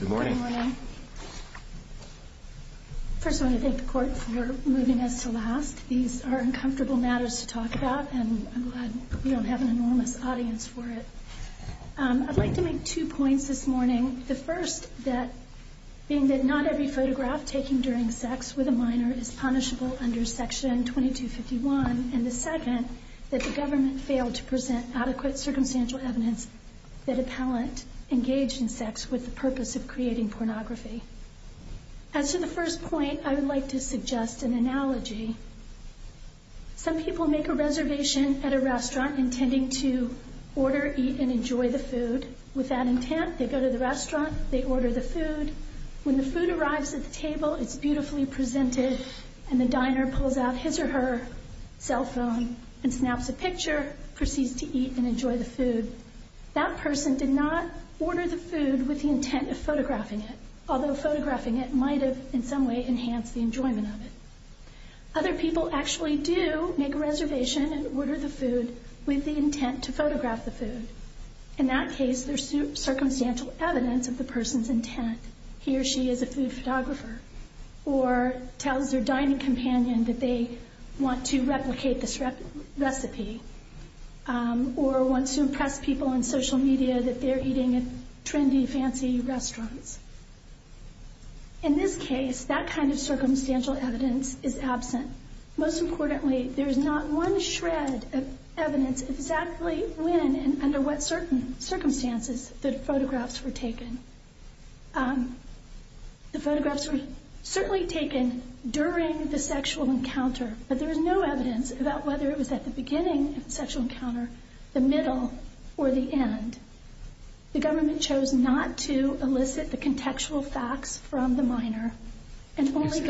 Good morning. First I want to thank the court for moving us to last. These are uncomfortable matters to talk about and I'm glad we don't have an enormous audience for it. I'd like to make two points this morning. The first being that not every photograph taken during sex with a minor is punishable under section 2251 and the second that the government failed to present adequate circumstantial evidence that a palant engaged in sex with the purpose of creating pornography. As to the first point I would like to suggest an analogy. Some people make a reservation at a restaurant intending to order, eat and enjoy the food. With that intent they go to the restaurant, they order the food. When the food arrives at the table it's beautifully presented and the diner pulls out his or her cell phone and snaps a picture and proceeds to eat and enjoy the food. That person did not order the food with the intent of photographing it, although photographing it might have in some way enhanced the enjoyment of it. Other people actually do make a reservation and order the food with the intent to photograph the food. In that case there's circumstantial evidence of the person's intent. He or she is a food photographer or tells their dining companion that they want to replicate this recipe or wants to impress people on social media that they're eating at trendy, fancy restaurants. In this case that kind of circumstantial evidence is absent. Most importantly there's not one shred of evidence exactly when and under what certain circumstances the photographs were taken. The photographs were certainly taken during the sexual encounter, but there is no evidence about whether it was at the beginning of the sexual encounter, the middle or the end. The government chose not to elicit the contextual facts from the minor and only the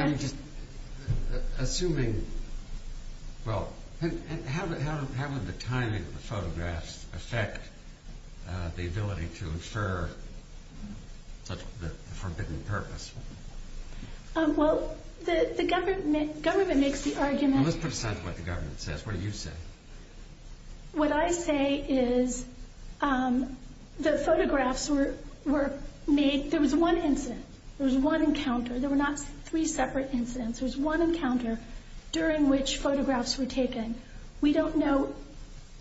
ability to infer the forbidden purpose. Well, the government makes the argument... Let's put aside what the government says. What do you say? What I say is the photographs were made, there was one incident, there was one encounter, there were not three separate incidents, there was one encounter during which photographs were taken. We don't know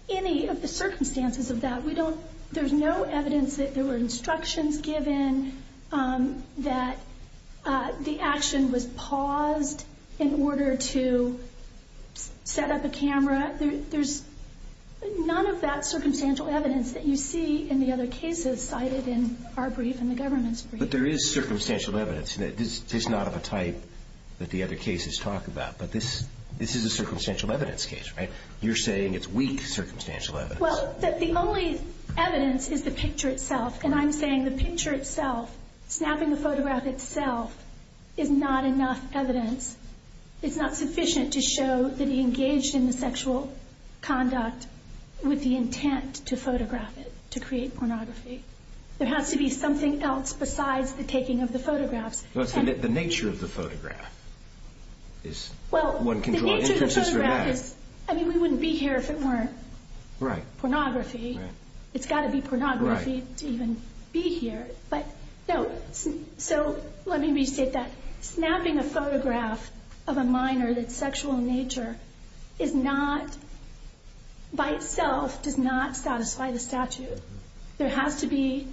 any of the circumstances of that. We don't... There's no evidence that there were instructions given that the action was paused in order to set up a camera. There's none of that circumstantial evidence that you see in the other cases cited in our brief and the government's brief. But there is circumstantial evidence. This is not of a type that the other cases talk about, but this is a circumstantial evidence case, right? You're saying it's weak circumstantial evidence. Well, the only evidence is the picture itself, and I'm saying the picture itself, snapping the photograph itself, is not enough evidence. It's not sufficient to show that he engaged in the sexual conduct with the intent to photograph it, to create pornography. There has to be something else besides the taking of the photographs. The nature of the photograph is... I mean, we wouldn't be here if it weren't pornography. It's got to be pornography to even be here. So let me restate that. Snapping a photograph of a minor that's sexual in nature is not, by itself, does not satisfy the statute. There has to be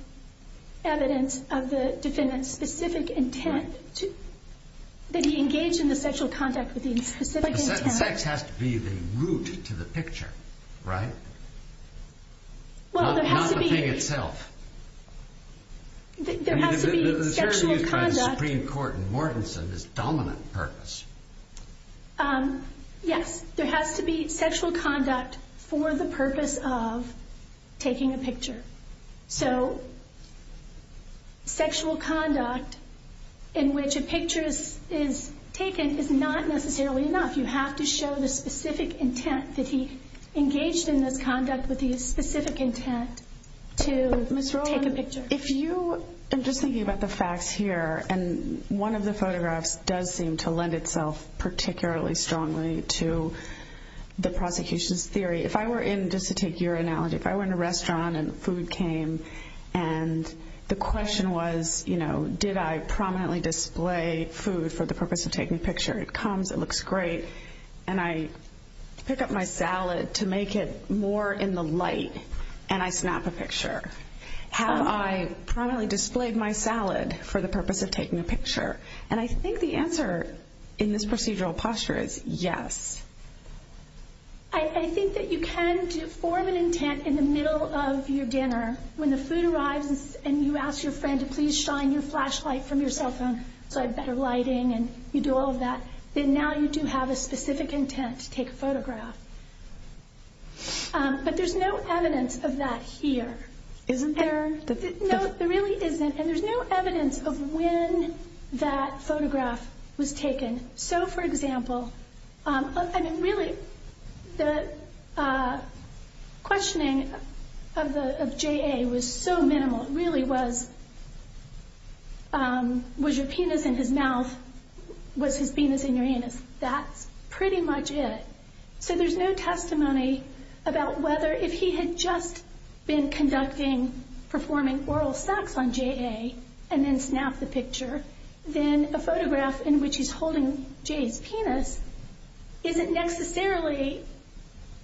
evidence of the defendant's specific intent, that he engaged in the sexual conduct with the specific intent. Sex has to be the root to the picture, right? Not the thing itself. There has to be sexual conduct. The Supreme Court in Mortenson is dominant purpose. Yes, there has to be sexual conduct for the purpose of taking a picture. So sexual conduct in which a picture is taken is not necessarily enough. You have to show the specific intent that he engaged in this conduct with the specific intent to take a picture. Ms. Rowland, if you... I'm just thinking about the facts here, and one of the photographs does seem to lend itself particularly strongly to the prosecution's theory. If I were in, just to take your analogy, if I were in a restaurant and food came, and the question was, you know, did I prominently display food for the purpose of taking a picture? It comes, it looks great, and I pick up my salad to make it more in the light, and I snap a picture. Have I prominently displayed my salad for the purpose of taking a picture? And I think the answer in this that you can form an intent in the middle of your dinner when the food arrives, and you ask your friend to please shine your flashlight from your cell phone so I have better lighting, and you do all of that, then now you do have a specific intent to take a photograph. But there's no evidence of that here. Isn't there? No, there really isn't, and there's no evidence of when that photograph was taken. So, for example, I mean, really, the questioning of J.A. was so minimal. It really was, was your penis in his mouth? Was his penis in your anus? That's pretty much it. So there's no testimony about whether, if he had just been conducting, performing oral sex on J.A., and then snapped the photograph in which he's holding J.A.'s penis, isn't necessarily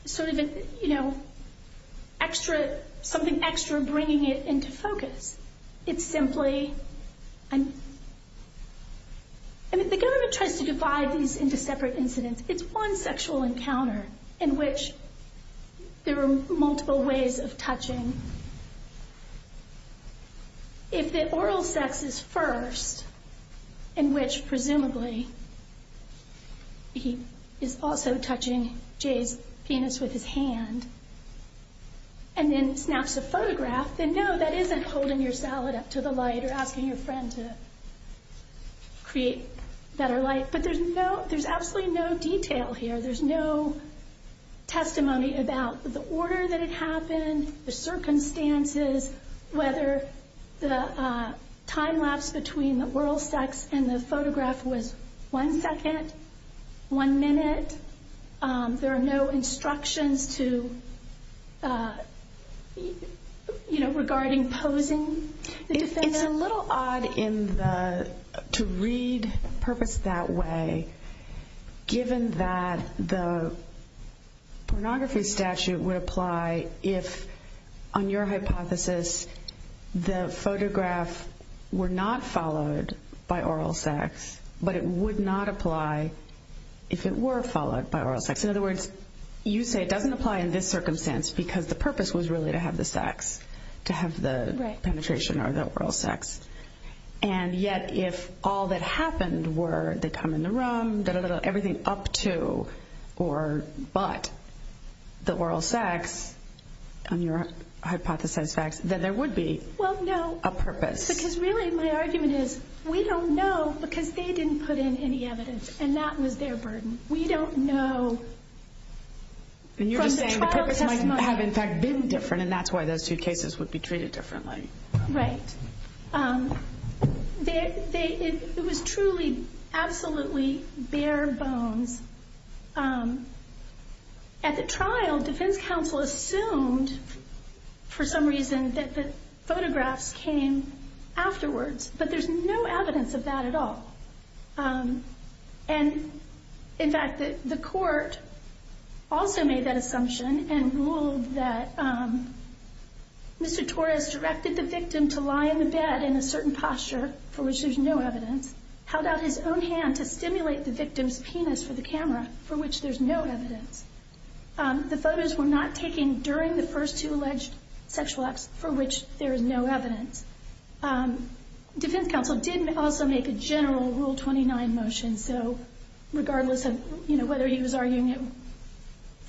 sort of, you know, extra, something extra bringing it into focus. It's simply, I mean, the government tries to divide these into separate incidents. It's one sexual encounter in which there are multiple ways of touching. If the oral sex is first, in which presumably he is also touching J.A.'s penis with his hand, and then snaps a photograph, then no, that isn't holding your salad up to the light or asking your friend to create better light. But there's no, there's absolutely no detail here. There's no testimony about the order that it happened, the between the oral sex and the photograph was one second, one minute. There are no instructions to, you know, regarding posing the defendant. It's a little odd in the, to read purpose that way, given that the pornography statute would apply if, on your hypothesis, the photograph were not followed by oral sex, but it would not apply if it were followed by oral sex. In other words, you say it doesn't apply in this circumstance because the purpose was really to have the sex, to have the penetration or the oral sex. And yet, if all that happened were they come in the room, dah, dah, dah, dah, everything up to or but the oral sex on your hypothesized facts, then there would be a purpose. Well, no, because really my argument is we don't know because they didn't put in any evidence and that was their burden. We don't know from the trial testimony. And you're just saying the purpose might have in fact been different, and that's why those two cases would be treated differently. Right. It was truly, absolutely bare bones. At the trial, defense counsel assumed for some reason that the photographs came afterwards, but there's no evidence of that at all. And in fact, the court also made that assumption and ruled that Mr. Torres directed the victim to lie in the bed in a certain posture for which there's no evidence, held out his own hand to stimulate the victim's penis for the camera for which there's no evidence. The photos were not taken during the first two alleged sexual acts for which there is no evidence. Defense counsel did also make a general Rule 29 motion. So regardless of whether he was arguing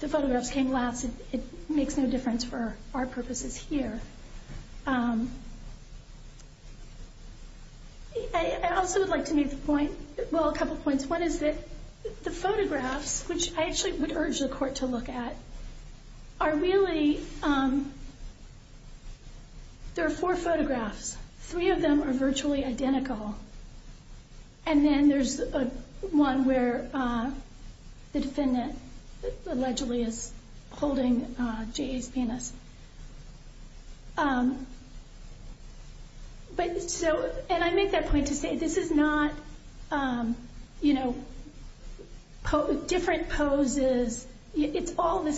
the photographs came afterwards for our purposes here. I also would like to make the point, well, a couple of points. One is that the photographs, which I actually would urge the court to look at, are really, there are four photographs. Three of them are virtually identical. And then there's one where the defendant allegedly is holding J.A.'s penis. And I make that point to say this is not, you know, different poses. It's all the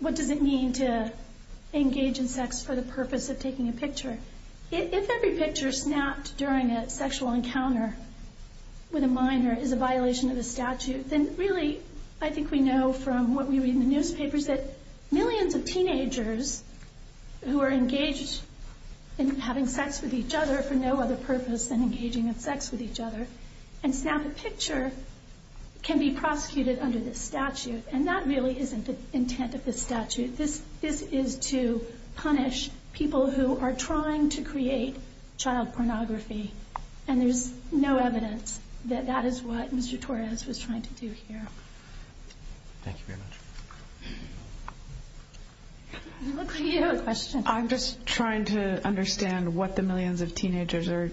What does it mean to engage in sex for the purpose of taking a picture? If every picture snapped during a sexual encounter with a minor is a violation of the statute, then really, I think we know from what we read in the newspapers that millions of teenagers who are engaged in having sex with each other for no other purpose than engaging in sex with each other and snap a picture can be the statute. This is to punish people who are trying to create child pornography. And there's no evidence that that is what Mr. Torres was trying to do here. Thank you very much. I'm just trying to understand what the millions of teenagers are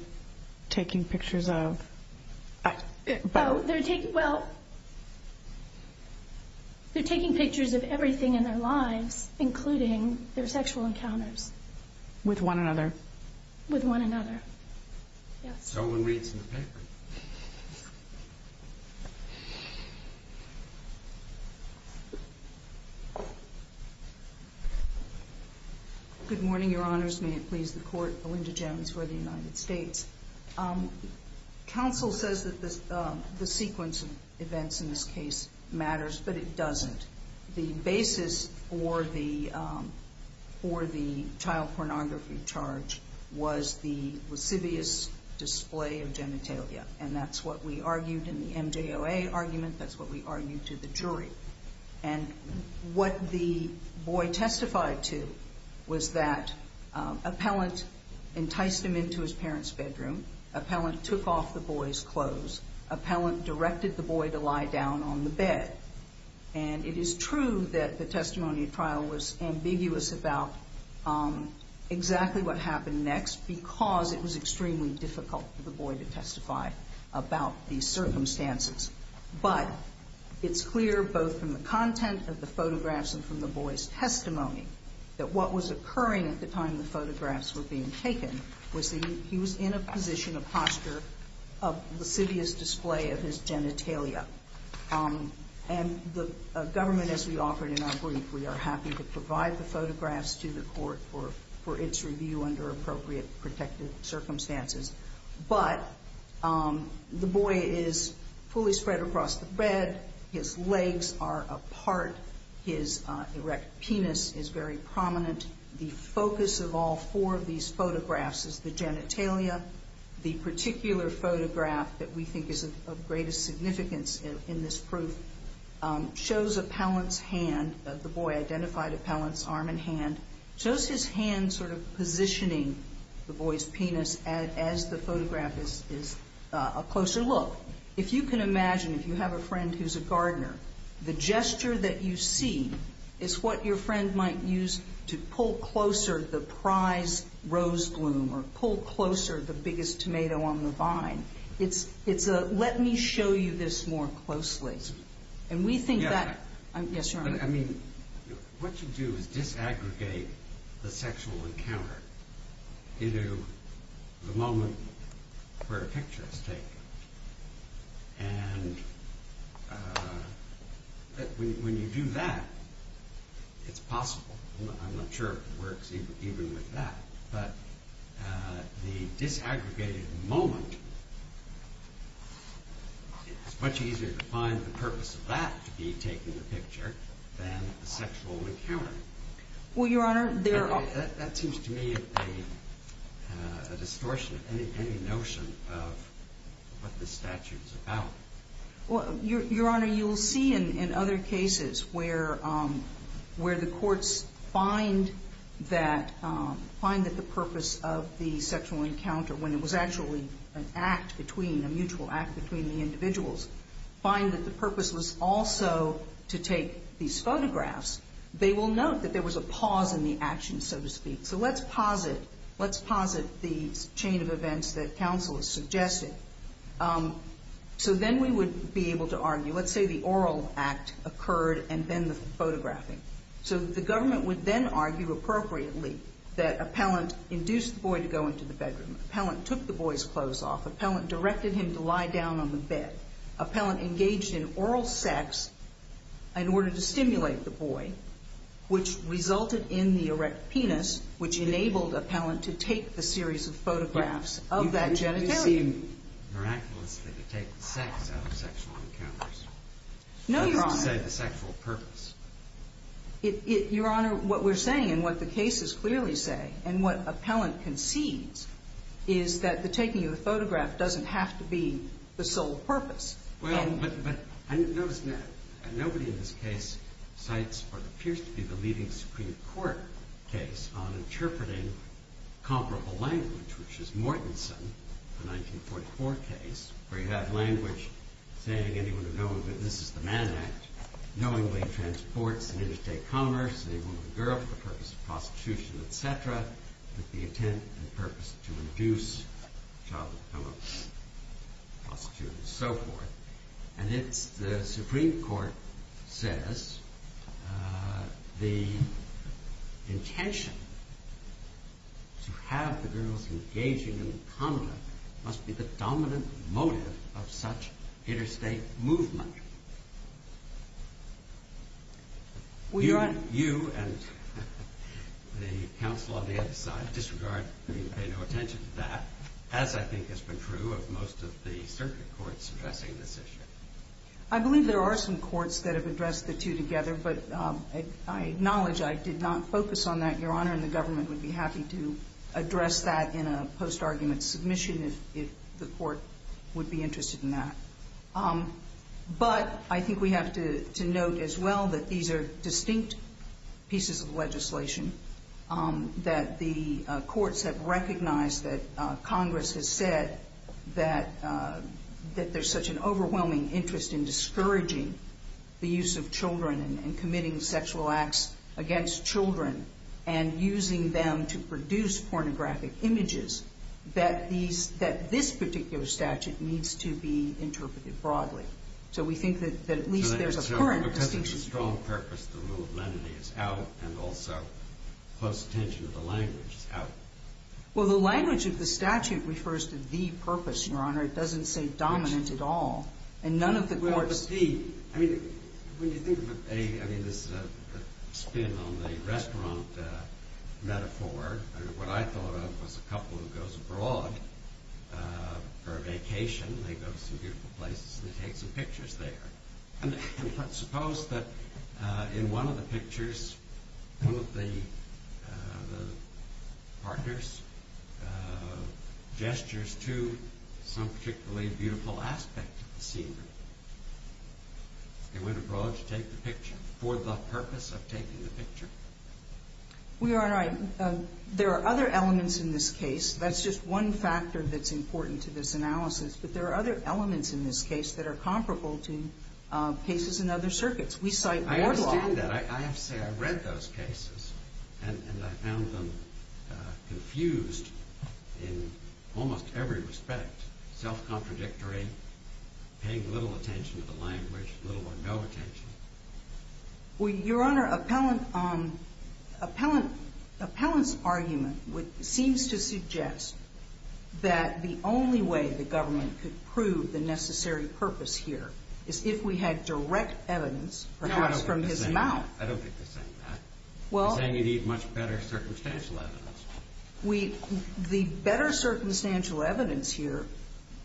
taking pictures of. Well, they're taking pictures of everything in their lives, including their sexual encounters. With one another? With one another, yes. No one reads the paper. Good morning, Your Honors. May it please the Court, Belinda Jones for the United States. Counsel says that the sequence of events in this case matters, but it doesn't. The basis for the child pornography charge was the lascivious display of genitalia, and that's what we argued in the MJOA argument. That's what we argued to the jury. And what the boy testified to was that an appellant enticed him into his parents' bedroom, an appellant took off the boy's clothes, an appellant directed the boy to lie down on the bed. And it is true that the testimony at trial was ambiguous about exactly what happened next because it was extremely difficult for the boy to testify about these circumstances. But it's clear both from the content of the photographs and from the boy's testimony that what was occurring at the time the photographs were being taken was that he was in a position of posture of lascivious display of his genitalia. And the government, as we offered in our brief, we are happy to provide the photographs to the Court for its review under appropriate protected circumstances. But the boy is fully spread across the bed. His legs are apart. His erect penis is very prominent. The focus of all four of these photographs in this proof shows appellant's hand. The boy identified appellant's arm and hand. It shows his hand sort of positioning the boy's penis as the photograph is a closer look. If you can imagine, if you have a friend who's a gardener, the gesture that you see is what your friend might use to pull closer the And we think that... Yes, Your Honor. I mean, what you do is disaggregate the sexual encounter into the moment where a picture is taken. And when you do that, it's possible. I'm not sure if it works even with that. But the disaggregated moment, it's much easier to find the purpose of that to be taken in the picture than the sexual encounter. Well, Your Honor, there are... That seems to me a distortion of any notion of what this statute is about. Well, Your Honor, you'll see in other cases where the courts find that the purpose of the sexual encounter, when it was actually an act between, a mutual act between the individuals, find that the purpose was also to take these photographs, they will note that there was a pause in the action, so to speak. So let's pause it. Let's pause it, the chain of events that counsel has suggested. So then we would be able to argue. Let's say the oral act occurred and then the photographing. So the government would then argue appropriately that appellant induced the boy to go into the bedroom. Appellant took the boy's clothes off. Appellant directed him to lie down on the bed. Appellant engaged in oral sex in order to stimulate the boy, which resulted in the erect penis, which enabled appellant to take the series of photographs of that genitalia. But it would seem miraculous that you take the sex out of sexual encounters. No, Your Honor. I'm trying to say the sexual purpose. Your Honor, what we're saying and what the cases clearly say and what appellant concedes is that the taking of the photograph doesn't have to be the sole purpose. Well, but I notice that nobody in this case cites what appears to be the leading Supreme Court case on interpreting comparable language, which is Mortenson, the 1944 case, where you have language saying anyone who knows that this is the Mann Act knowingly transports an interstate commerce, a woman or girl, for the purpose of prostitution, etc., with the intent and purpose to induce child abuse, prostitution, and so forth. And the Supreme Court says the intention to have the girls engaging in conduct must be the dominant motive of such interstate movement. You and the counsel on the other side disregard and pay no attention to that, as I think has been true of most of the circuit courts addressing this issue. I believe there are some courts that have addressed the two together, but I acknowledge I did not focus on that. Your Honor, and the government would be happy to address that in a post-argument submission if the court would be interested in that. But I think we have to note as well that these are distinct pieces of legislation, that the courts have recognized that Congress has said that there's such an overwhelming interest in discouraging the use of children and committing sexual acts against children and using them to produce pornographic images, that this particular statute needs to be interpreted broadly. So we think that at least there's a current distinction. Because it's a strong purpose to remove lenity, it's out, and also close attention to the language is out. Well, the language of the statute refers to the purpose, Your Honor. It doesn't say dominant at all. And none of the courts... Well, Steve, I mean, when you think of a... I mean, this is a spin on the restaurant metaphor. What I thought of was a couple who goes abroad for a vacation. They go to some beautiful places and they take some pictures there. And suppose that in one of the pictures, one of the partners gestures to some particularly beautiful aspect of the scenery. They went abroad to take the picture for the purpose of taking the picture. Your Honor, there are other elements in this case. That's just one factor that's important to this analysis. But there are other elements in this case that are comparable to cases in other circuits. We cite more law... I understand that. I have to say I've read those cases, and I found them confused in almost every respect. Self-contradictory, paying little attention to the language, little or no attention. Well, Your Honor, Appellant's argument seems to suggest that the only way the government could prove the necessary purpose here is if we had direct evidence, perhaps from his mouth. I don't think they're saying that. They're saying you need much better circumstantial evidence. The better circumstantial evidence here,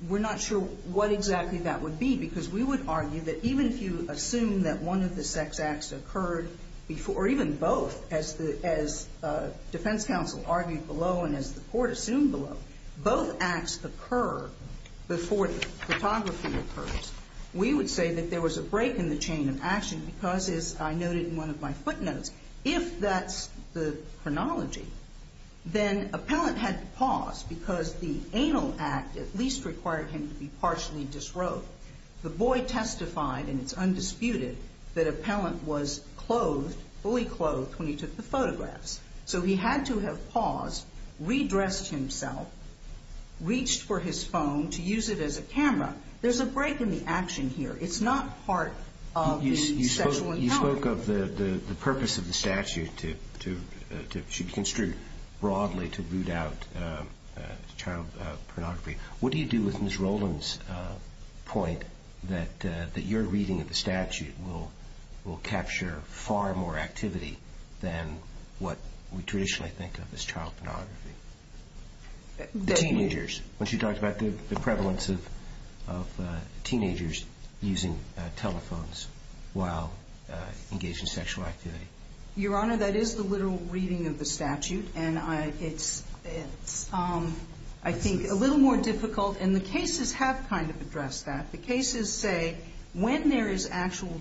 we're not sure what exactly that would be because we would argue that even if you assume that one of the sex acts occurred before, or even both, as defense counsel argued below and as the court assumed below, both acts occur before the photography occurs, we would say that there was a break in the chain of action because, as I noted in one of my footnotes, if that's the chronology, then Appellant had to pause because the anal act at least required him to be partially disrobed. The boy testified, and it's undisputed, that Appellant was clothed, fully clothed, when he took the photographs. So he had to have paused, redressed himself, reached for his phone to use it as a camera. There's a break in the action here. It's not part of the sexual encounter. You spoke of the purpose of the statute should be construed broadly to root out child pornography. What do you do with Ms. Rowland's point that your reading of the statute will capture far more activity than what we traditionally think of as child pornography? Teenagers. When she talked about the prevalence of teenagers using telephones while engaged in sexual activity. Your Honor, that is the literal reading of the statute, and it's, I think, a little more difficult, and the cases have kind of addressed that. The cases say when there is actual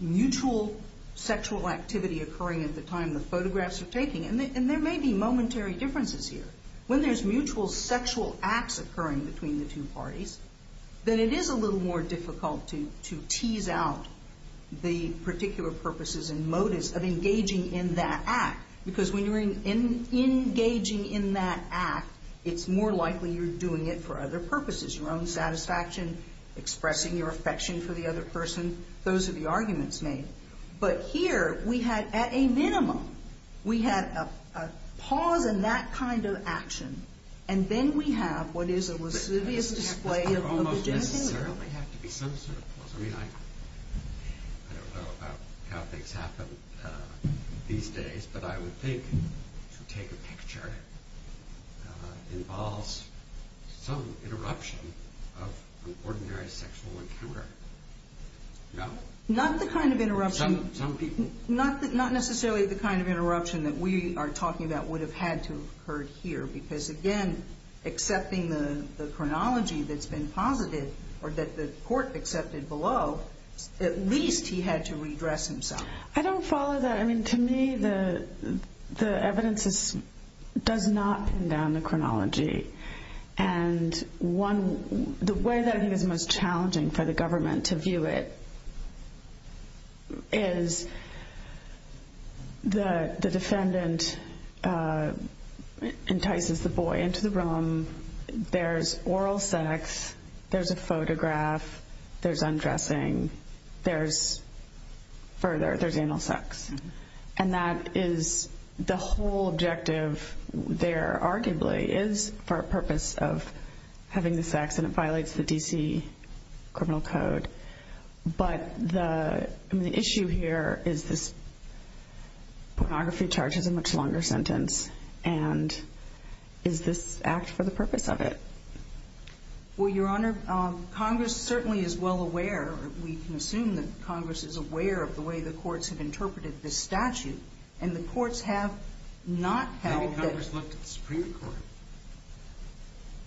mutual sexual activity occurring at the time the photographs are taking, and there may be momentary differences here. When there's mutual sexual acts occurring between the two parties, then it is a little more difficult to tease out the particular purposes and motives of engaging in that act because when you're engaging in that act, it's more likely you're doing it for other purposes. Your own satisfaction, expressing your affection for the other person. Those are the arguments made. But here, we had at a minimum, we had a pause in that kind of action, and then we have what is a lascivious display of the genitalia. It doesn't almost necessarily have to be some sort of pause. I mean, I don't know about how things happen these days, but I would think to take a picture involves some interruption of an ordinary sexual encounter. No? Not the kind of interruption. Some people. Not necessarily the kind of interruption that we are talking about would have had to have occurred here because, again, accepting the chronology that's been posited or that the court accepted below, at least he had to redress himself. I don't follow that. I mean, to me, the evidence does not pin down the chronology. And the way that I think is most challenging for the government to view it is the defendant entices the boy into the room. There's oral sex. There's a photograph. There's undressing. There's further. There's anal sex. And that is the whole objective there, arguably, is for a purpose of having the sex and it violates the D.C. criminal code. But the issue here is this pornography charge is a much longer sentence, and is this act for the purpose of it? Well, Your Honor, Congress certainly is well aware. We can assume that Congress is aware of the way the courts have interpreted this statute. And the courts have not held that. Maybe Congress looked at the Supreme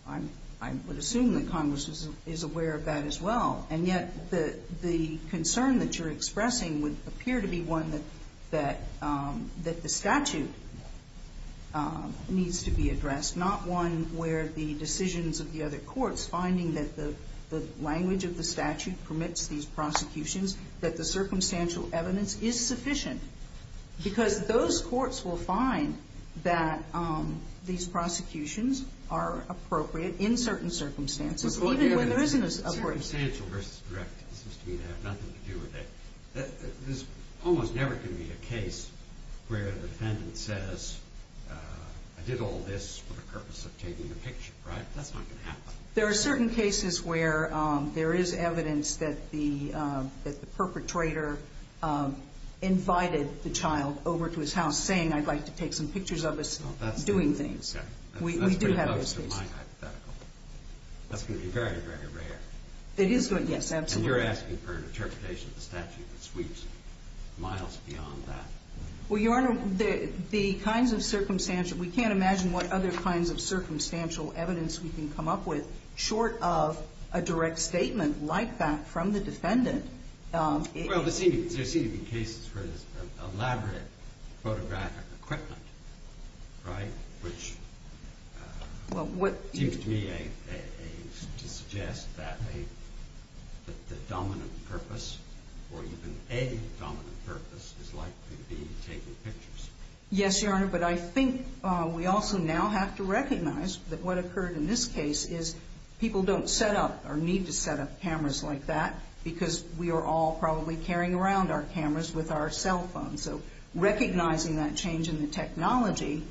Court. I would assume that Congress is aware of that as well. And yet the concern that you're expressing would appear to be one that the statute needs to be addressed, not one where the decisions of the other courts, finding that the language of the statute permits these prosecutions, that the circumstantial evidence is sufficient. Because those courts will find that these prosecutions are appropriate in certain circumstances, even when there isn't as appropriate. Circumstantial versus direct seems to me to have nothing to do with it. There's almost never going to be a case where the defendant says, I did all this for the purpose of taking a picture, right? That's not going to happen. There are certain cases where there is evidence that the perpetrator invited the child over to his house saying, I'd like to take some pictures of us doing things. We do have those cases. That's pretty close to my hypothetical. That's going to be very, very rare. It is going to be, yes, absolutely. And you're asking for an interpretation of the statute that sweeps miles beyond that. Well, Your Honor, the kinds of circumstantial, we can't imagine what other kinds of circumstantial evidence we can come up with short of a direct statement like that from the defendant. Well, there seem to be cases for this elaborate photographic equipment, right? Which seems to me to suggest that the dominant purpose or even a dominant purpose is likely to be taking pictures. Yes, Your Honor, but I think we also now have to recognize that what occurred in this case is people don't set up or need to set up cameras like that because we are all probably carrying around our cameras with our cell phones. And so recognizing that change in the technology,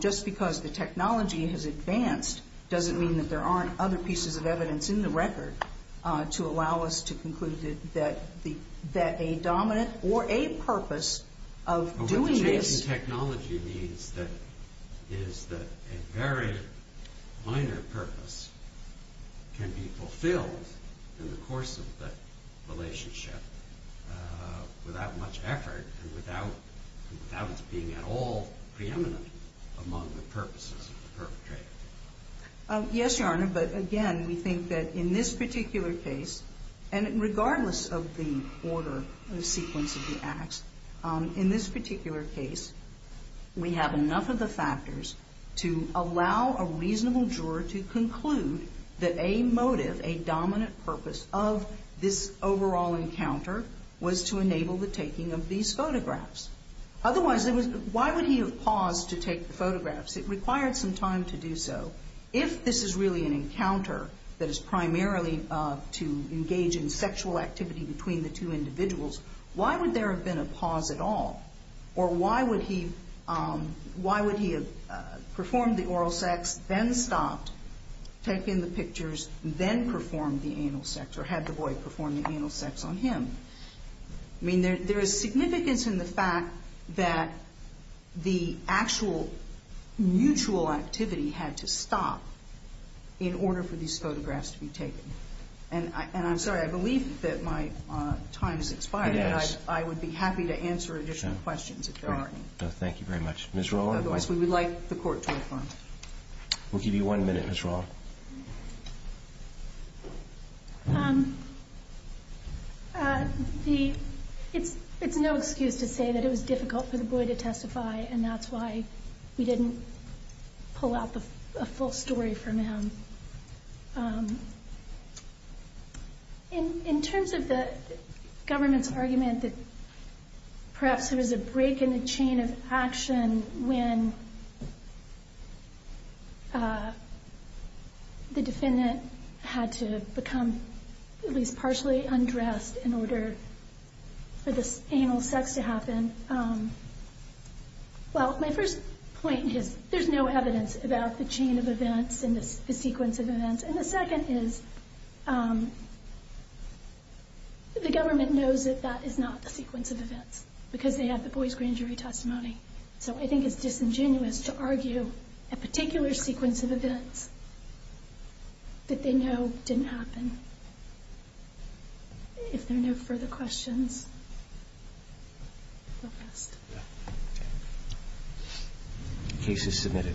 just because the technology has advanced, doesn't mean that there aren't other pieces of evidence in the record to allow us to conclude that a dominant or a purpose of doing this... What the change in technology means is that a very minor purpose can be fulfilled in the course of that relationship without much effort and without it being at all preeminent among the purposes of the perpetrator. Yes, Your Honor, but again, we think that in this particular case, and regardless of the order or the sequence of the acts, in this particular case, we have enough of the factors to allow a reasonable juror to conclude that a motive, a dominant purpose of this overall encounter was to enable the taking of these photographs. Otherwise, why would he have paused to take the photographs? It required some time to do so. If this is really an encounter that is primarily to engage in sexual activity between the two individuals, why would there have been a pause at all? Or why would he have performed the oral sex, then stopped, taken the pictures, then performed the anal sex, or had the boy perform the anal sex on him? I mean, there is significance in the fact that the actual mutual activity had to stop in order for these photographs to be taken. And I'm sorry, I believe that my time has expired, but I would be happy to answer additional questions if there are any. No, thank you very much. Otherwise, we would like the Court to affirm. We'll give you one minute, Ms. Roth. It's no excuse to say that it was difficult for the boy to testify, and that's why we didn't pull out a full story from him. In terms of the government's argument that perhaps there was a break in the chain of action when the defendant had to become at least partially undressed in order for the anal sex to happen, well, my first point is there's no evidence about the chain of events and the sequence of events. And the second is the government knows that that is not the sequence of events because they have the boy's grand jury testimony. So I think it's disingenuous to argue a particular sequence of events that they know didn't happen. If there are no further questions, we'll rest. The case is submitted.